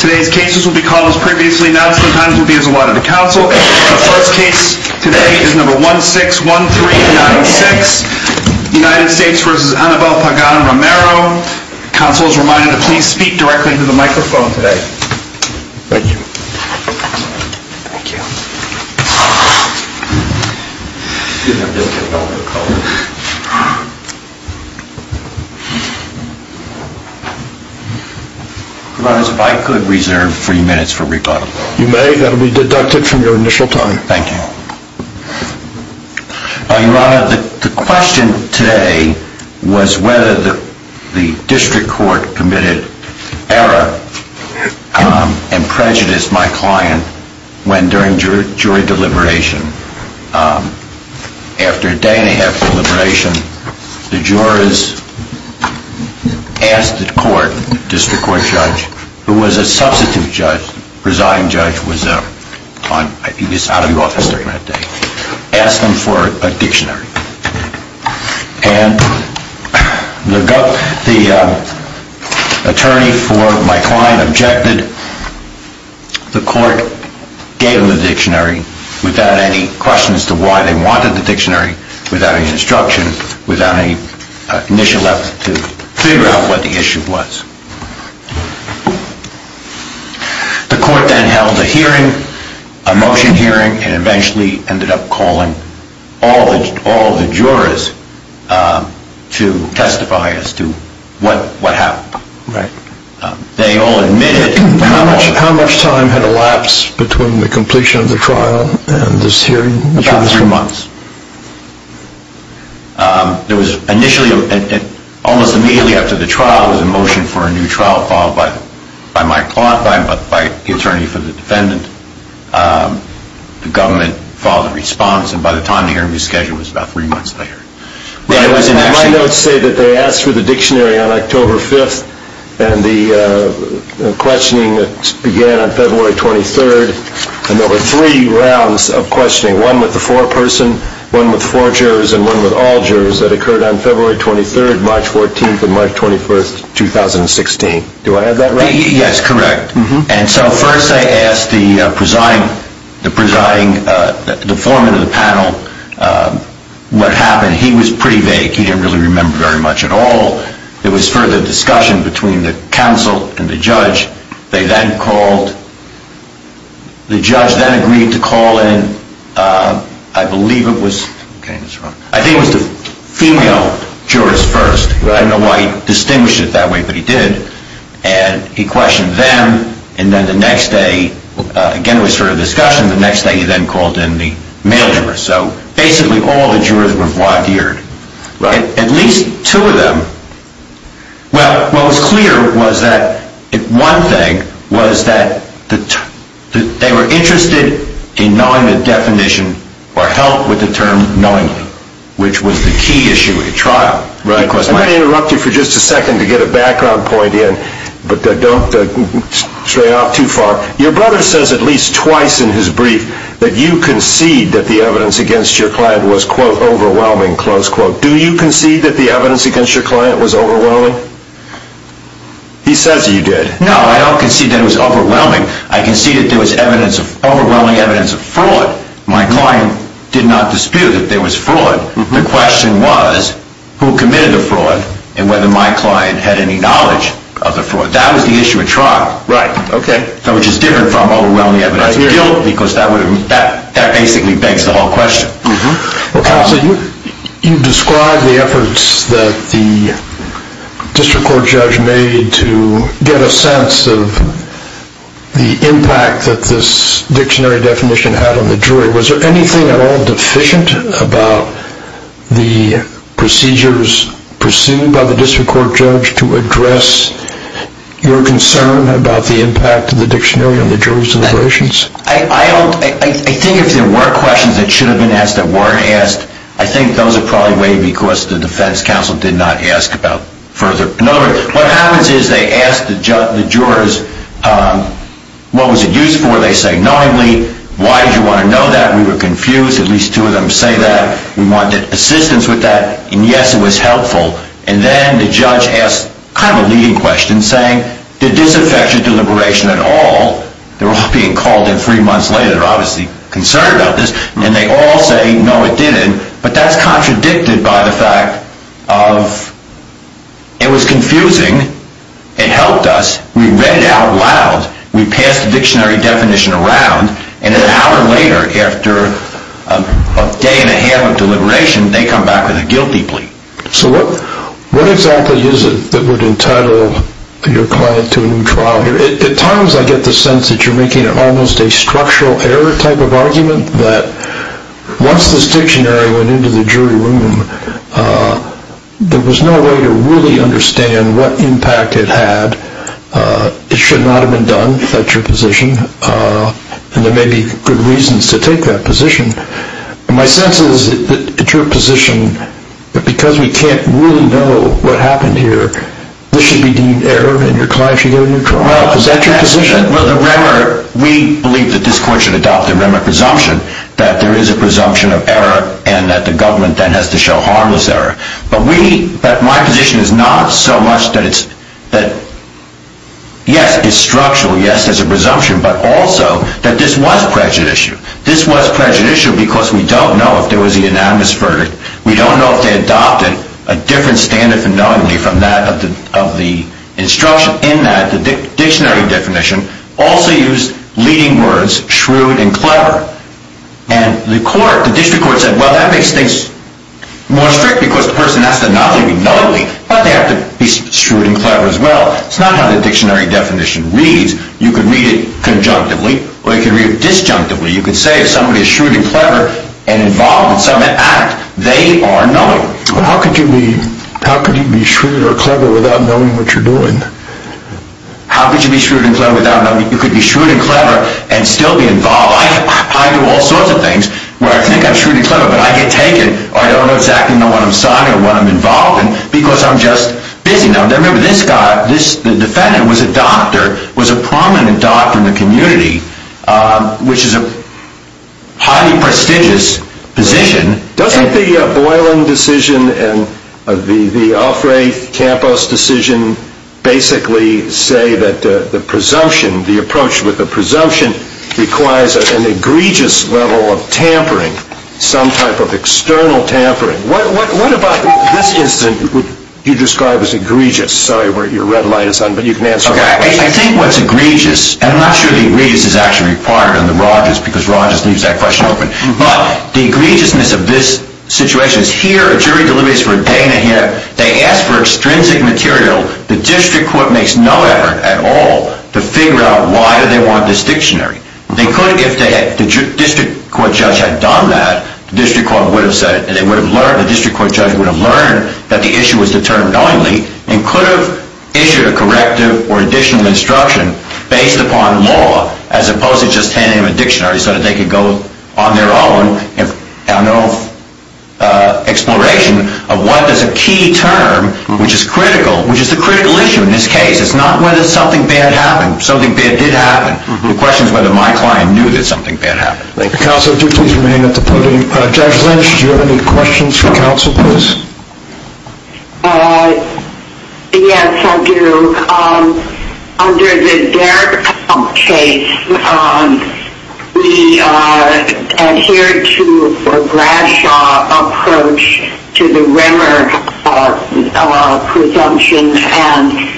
Today's cases will be called as previously announced. The times will be as allotted to counsel. The first case today is number 161396, United States v. Annabel Pagan-Romero. Counsel is reminded to please speak directly into the microphone today. Thank you. Thank you. Your Honor, if I could reserve three minutes for rebuttal. You may. That will be deducted from your initial time. Thank you. Your Honor, the question today was whether the district court committed error and prejudiced my client when during jury deliberation. After a day and a half deliberation, the jurors asked the court, district court judge, who was a substitute judge, residing judge, was out of office during that day, asked them for a dictionary. And the attorney for my client objected. The court gave them the dictionary without any question as to why they wanted the dictionary, without any instruction, without any initial effort to figure out what the issue was. The court then held a hearing, a motion hearing, and eventually ended up calling all the jurors to testify as to what happened. They all admitted. How much time had elapsed between the completion of the trial and this hearing? About three months. There was initially, almost immediately after the trial, there was a motion for a new trial followed by my client, by the attorney for the defendant. The government followed the response, and by the time the hearing was scheduled, it was about three months later. My notes say that they asked for the dictionary on October 5th, and the questioning began on February 23rd. And there were three rounds of questioning, one with the foreperson, one with four jurors, and one with all jurors, that occurred on February 23rd, March 14th, and March 21st, 2016. Do I have that right? Yes, correct. And so first they asked the presiding, the presiding, the foreman of the panel what happened. He was pretty vague. He didn't really remember very much at all. There was further discussion between the counsel and the judge. They then called, the judge then agreed to call in, I believe it was, I think it was the female jurors first. I don't know why he distinguished it that way, but he did. And he questioned them, and then the next day, again it was further discussion, the next day he then called in the male jurors. So basically all the jurors were voir dire. At least two of them, well, what was clear was that one thing was that they were interested in knowing the definition or helped with the term knowingly, which was the key issue at trial. I'm going to interrupt you for just a second to get a background point in, but don't stray off too far. Your brother says at least twice in his brief that you concede that the evidence against your client was, quote, overwhelming, close quote. Do you concede that the evidence against your client was overwhelming? He says you did. No, I don't concede that it was overwhelming. I concede that there was overwhelming evidence of fraud. My client did not dispute that there was fraud. The question was who committed the fraud and whether my client had any knowledge of the fraud. That was the issue at trial, which is different from overwhelming evidence of guilt, because that basically begs the whole question. You describe the efforts that the district court judge made to get a sense of the impact that this dictionary definition had on the jury. Was there anything at all deficient about the procedures pursued by the district court judge to address your concern about the impact of the dictionary on the jurors' deliberations? I think if there were questions that should have been asked that weren't asked, I think those are probably waived because the defense counsel did not ask about further. In other words, what happens is they ask the jurors, what was it used for? They say knowingly. Why did you want to know that? We were confused. At least two of them say that. We wanted assistance with that. And yes, it was helpful. And then the judge asked kind of a leading question, saying, did this affect your deliberation at all? They're all being called in three months later. They're obviously concerned about this. And they all say, no, it didn't. But that's contradicted by the fact of it was confusing. It helped us. We read it out loud. We passed the dictionary definition around. And an hour later, after a day and a half of deliberation, they come back with a guilty plea. So what exactly is it that would entitle your client to a new trial? At times I get the sense that you're making almost a structural error type of argument, that once this dictionary went into the jury room, there was no way to really understand what impact it had. It should not have been done. That's your position. And there may be good reasons to take that position. My sense is that it's your position that because we can't really know what happened here, this should be deemed error, and your client should go to a new trial. Is that your position? Well, we believe that this court should adopt a remnant presumption, that there is a presumption of error and that the government then has to show harmless error. But my position is not so much that, yes, it's structural, yes, there's a presumption, but also that this was prejudicial. This was prejudicial because we don't know if there was a unanimous verdict. We don't know if they adopted a different standard for knowingly from that of the instruction in that. The dictionary definition also used leading words, shrewd and clever. And the court, the district court said, well, that makes things more strict because the person has to not only be knowingly, but they have to be shrewd and clever as well. It's not how the dictionary definition reads. You could read it conjunctively or you could read it disjunctively. You could say if somebody is shrewd and clever and involved in some act, they are knowingly. How could you be shrewd or clever without knowing what you're doing? How could you be shrewd and clever without knowing? You could be shrewd and clever and still be involved. I do all sorts of things where I think I'm shrewd and clever, but I get taken. I don't know exactly what I'm signing or what I'm involved in because I'm just busy. Now, remember, this guy, the defendant was a doctor, was a prominent doctor in the community, which is a highly prestigious position. Doesn't the Boylan decision and the Alfre Campos decision basically say that the presumption, the approach with the presumption requires an egregious level of tampering, some type of external tampering? What about this instance you described as egregious? Sorry, your red light is on, but you can answer that question. I think what's egregious, and I'm not sure the egregious is actually required in the Rogers because Rogers leaves that question open, but the egregiousness of this situation is here, a jury deliberates for a day and a half. They ask for extrinsic material. The district court makes no effort at all to figure out why do they want this dictionary. They could, if the district court judge had done that, the district court judge would have learned that the issue was determined only and could have issued a corrective or additional instruction based upon law as opposed to just handing them a dictionary so that they could go on their own and have no exploration of what is a key term which is critical, which is the critical issue in this case. It's not whether something bad happened. Something bad did happen. The question is whether my client knew that something bad happened. Counsel, do please remain at the podium. Judge Lynch, do you have any questions for counsel, please? Yes, I do. Under the Dairdump case, we adhered to a Bradshaw approach to the Rimmer presumption and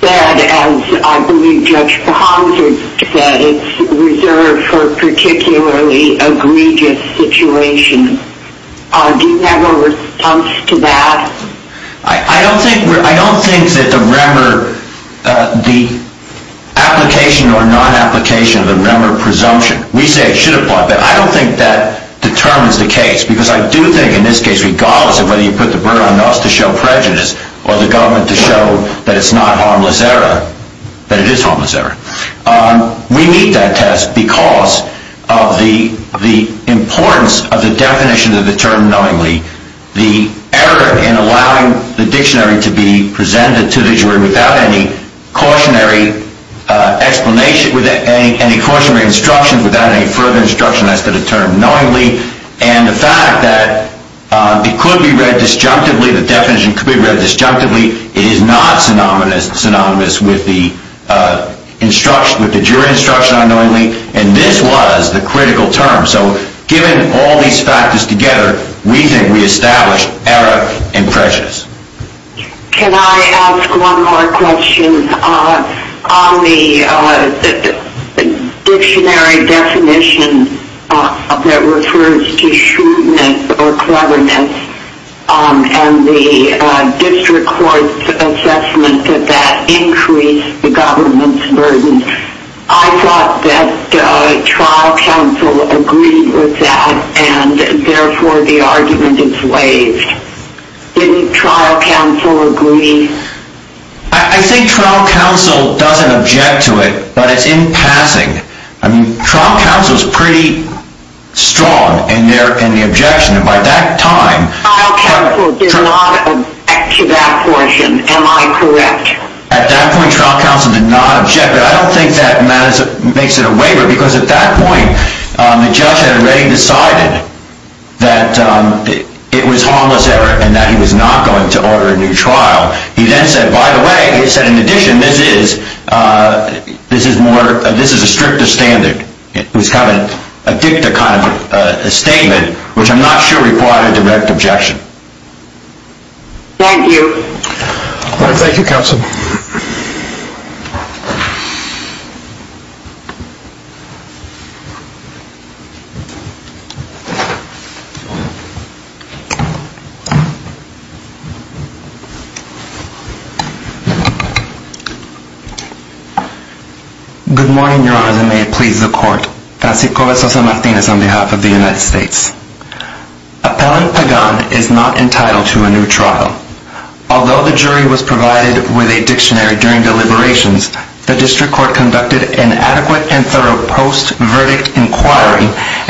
said, as I believe Judge Bahanzard said, it's reserved for particularly egregious situations. Do you have a response to that? I don't think that the Rimmer, the application or non-application of the Rimmer presumption, we say it should apply, but I don't think that determines the case because I do think in this case, regardless of whether you put the burden on us to show prejudice or the government to show that it's not harmless error, that it is harmless error. We meet that test because of the importance of the definition of the term knowingly, the error in allowing the dictionary to be presented to the jury without any cautionary explanation, without any cautionary instruction, without any further instruction as to the term knowingly, and the fact that it could be read disjunctively, the definition could be read disjunctively, it is not synonymous with the jury instruction on knowingly, and this was the critical term. So given all these factors together, we think we established error and prejudice. Can I ask one more question? On the dictionary definition that refers to shrewdness or cleverness, and the district court's assessment that that increased the government's burden, I thought that trial counsel agreed with that, and therefore the argument is waived. Didn't trial counsel agree? I think trial counsel doesn't object to it, but it's in passing. I mean, trial counsel is pretty strong in the objection, and by that time... Trial counsel did not object to that portion, am I correct? At that point, trial counsel did not object, but I don't think that makes it a waiver, because at that point, the judge had already decided that it was harmless error, and that he was not going to order a new trial. He then said, by the way, he said in addition, this is a stricter standard. It was kind of a dicta kind of statement, which I'm not sure required a direct objection. Thank you. Thank you, counsel. Good morning, Your Honors, and may it please the court. Francisco V. Martinez, on behalf of the United States. Appellant Pagan is not entitled to a new trial. Although the jury was provided with a dictionary during deliberations,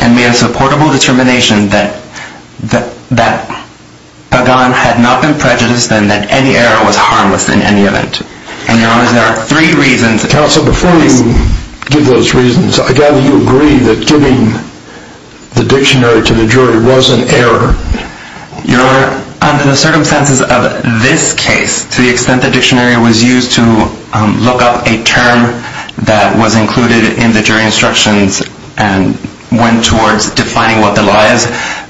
and made a supportable determination that Pagan had not been prejudiced and that any error was harmless in any event. And, Your Honors, there are three reasons. Counsel, before you give those reasons, I gather you agree that giving the dictionary to the jury was an error. Your Honor, under the circumstances of this case, to the extent the dictionary was used to look up a term that was included in the jury instructions and went towards defining what the lie is,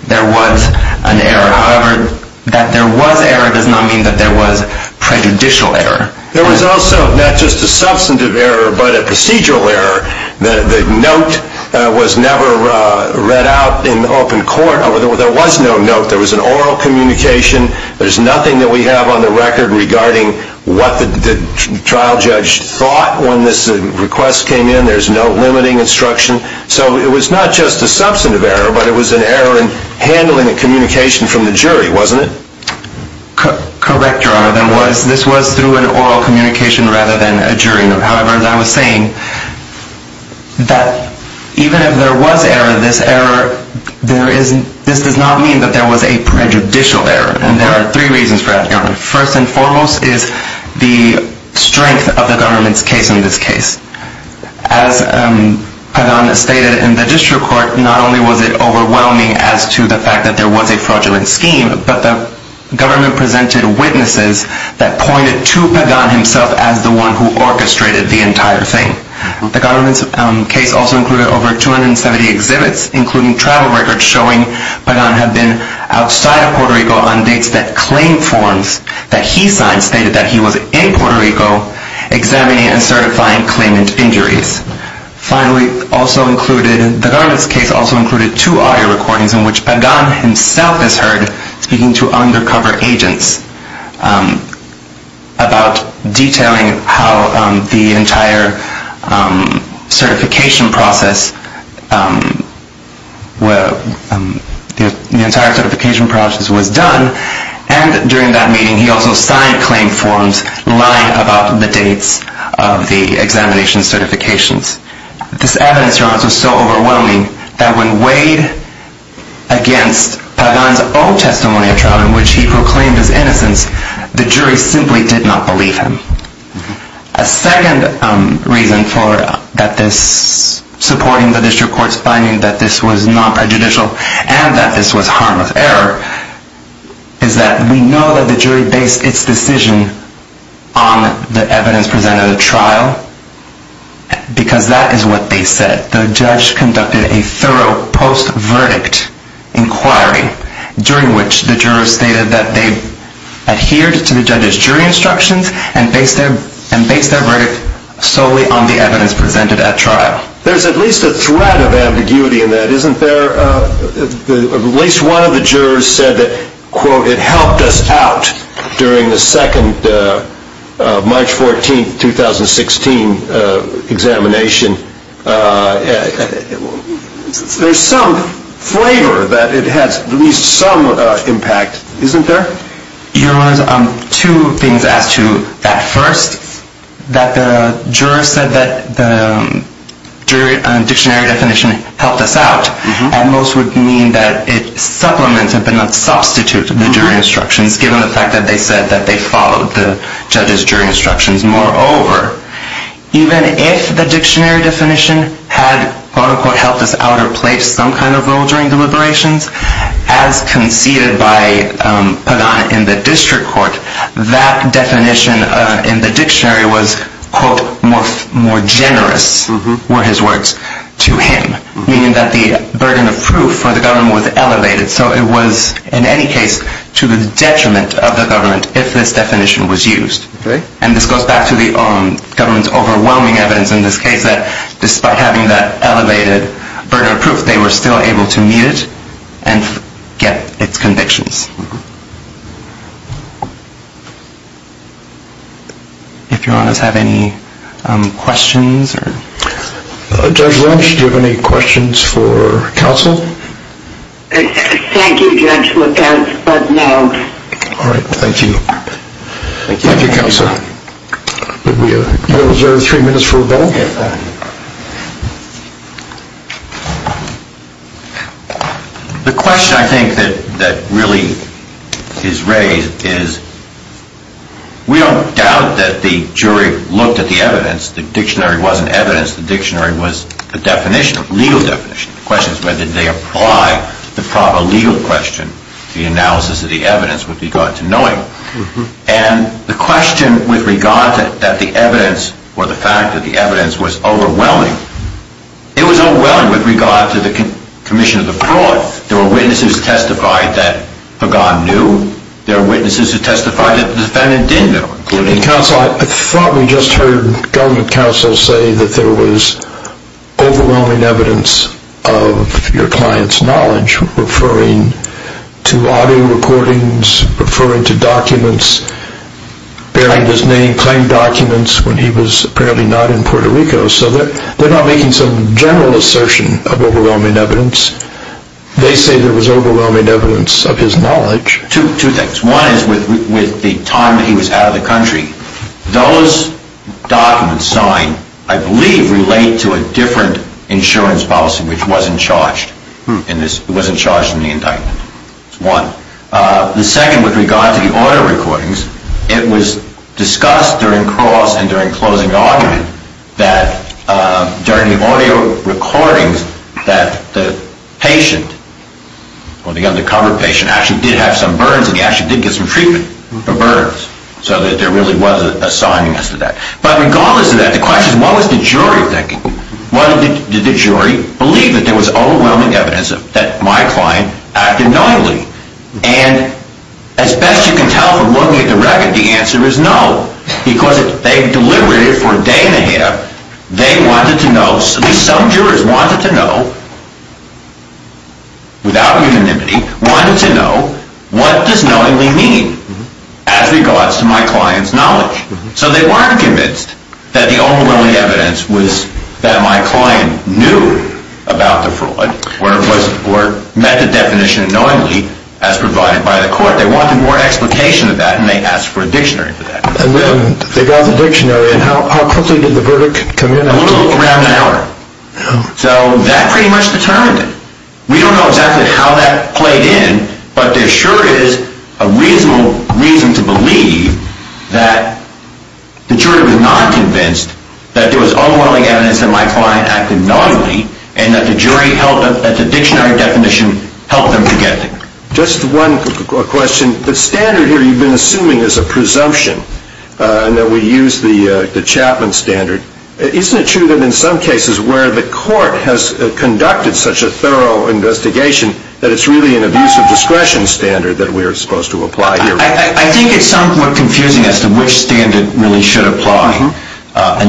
there was an error. However, that there was error does not mean that there was prejudicial error. There was also not just a substantive error, but a procedural error. The note was never read out in open court. There was no note. There was an oral communication. There's nothing that we have on the record regarding what the trial judge thought when this request came in. There's no limiting instruction. So it was not just a substantive error, but it was an error in handling the communication from the jury, wasn't it? Correct, Your Honor. This was through an oral communication rather than a jury note. However, as I was saying, that even if there was error, this does not mean that there was a prejudicial error. And there are three reasons for that, Your Honor. First and foremost is the strength of the government's case in this case. As Pagan stated in the district court, not only was it overwhelming as to the fact that there was a fraudulent scheme, but the government presented witnesses that pointed to Pagan himself as the one who orchestrated the entire thing. The government's case also included over 270 exhibits, including travel records, showing Pagan had been outside of Puerto Rico on dates that claim forms that he signed stated that he was in Puerto Rico examining and certifying claimant injuries. Finally, the government's case also included two audio recordings in which Pagan himself is heard speaking to undercover agents about detailing how the entire certification process was done. And during that meeting, he also signed claim forms lying about the dates of the examination certifications. This evidence, Your Honor, was so overwhelming that when weighed against Pagan's own testimony of trial in which he proclaimed his innocence, the jury simply did not believe him. A second reason for supporting the district court's finding that this was not prejudicial and that this was harmless error is that we know that the jury based its decision on the evidence presented at the trial because that is what they said. The judge conducted a thorough post-verdict inquiry during which the jurors stated that they adhered to the judge's jury instructions and based their verdict solely on the evidence presented at trial. There's at least a thread of ambiguity in that, isn't there? At least one of the jurors said that, quote, it helped us out during the second March 14, 2016 examination. There's some flavor that it has at least some impact, isn't there? Your Honor, two things as to that. First, that the jurors said that the dictionary definition helped us out, and most would mean that its supplements have been a substitute to the jury instructions given the fact that they said that they followed the judge's jury instructions. As conceded by Pagan in the district court, that definition in the dictionary was, quote, more generous were his words to him, meaning that the burden of proof for the government was elevated. So it was, in any case, to the detriment of the government if this definition was used. And this goes back to the government's overwhelming evidence in this case that despite having that elevated burden of proof, they were still able to meet it and get its convictions. If Your Honors have any questions? Judge Lynch, do you have any questions for counsel? Thank you, Judge, without further note. All right, thank you. Thank you, counsel. Do we reserve three minutes for rebuttal? The question, I think, that really is raised is we don't doubt that the jury looked at the evidence. The dictionary wasn't evidence. The dictionary was a definition, a legal definition. The question is whether they apply the proper legal question. The analysis of the evidence with regard to knowing. And the question with regard to the evidence or the fact that the evidence was overwhelming, it was overwhelming with regard to the commission of the fraud. There were witnesses who testified that Pagan knew. There were witnesses who testified that the defendant didn't know. Counsel, I thought we just heard government counsel say that there was overwhelming evidence of your client's knowledge referring to audio recordings, referring to documents, bearing his name, claimed documents when he was apparently not in Puerto Rico. So they're not making some general assertion of overwhelming evidence. They say there was overwhelming evidence of his knowledge. Two things. One is with the time that he was out of the country, those documents signed, I believe, relate to a different insurance policy which wasn't charged in the indictment. That's one. The second with regard to the audio recordings, it was discussed during cross and during closing argument that during the audio recordings that the patient or the undercover patient actually did have some burns and he actually did get some treatment for burns. So that there really was a signing as to that. But regardless of that, the question is what was the jury thinking? Why did the jury believe that there was overwhelming evidence that my client acted knowingly? And as best you can tell from looking at the record, the answer is no. Because they deliberated for a day and a half. They wanted to know, at least some jurors wanted to know, without unanimity, wanted to know what does knowingly mean as regards to my client's knowledge? So they weren't convinced that the overwhelming evidence was that my client knew about the fraud or met the definition knowingly as provided by the court. They wanted more explication of that and they asked for a dictionary for that. And then they got the dictionary and how quickly did the verdict come in? Around an hour. So that pretty much determined it. We don't know exactly how that played in, but there sure is a reasonable reason to believe that the jury was not convinced that there was overwhelming evidence that my client acted knowingly and that the dictionary definition helped them to get there. Just one question. The standard here you've been assuming is a presumption and that we use the Chapman standard. Isn't it true that in some cases where the court has conducted such a thorough investigation that it's really an abuse of discretion standard that we're supposed to apply here? I think it's somewhat confusing as to which standard really should apply. But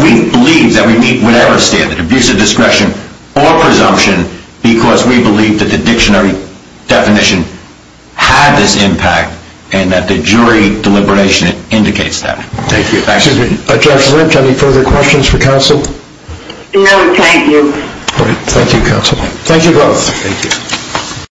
we believe that we meet whatever standard, abuse of discretion or presumption, because we believe that the dictionary definition had this impact and that the jury deliberation indicates that. Thank you. Judge Lynch, any further questions for counsel? No, thank you. Thank you, counsel. Thank you both.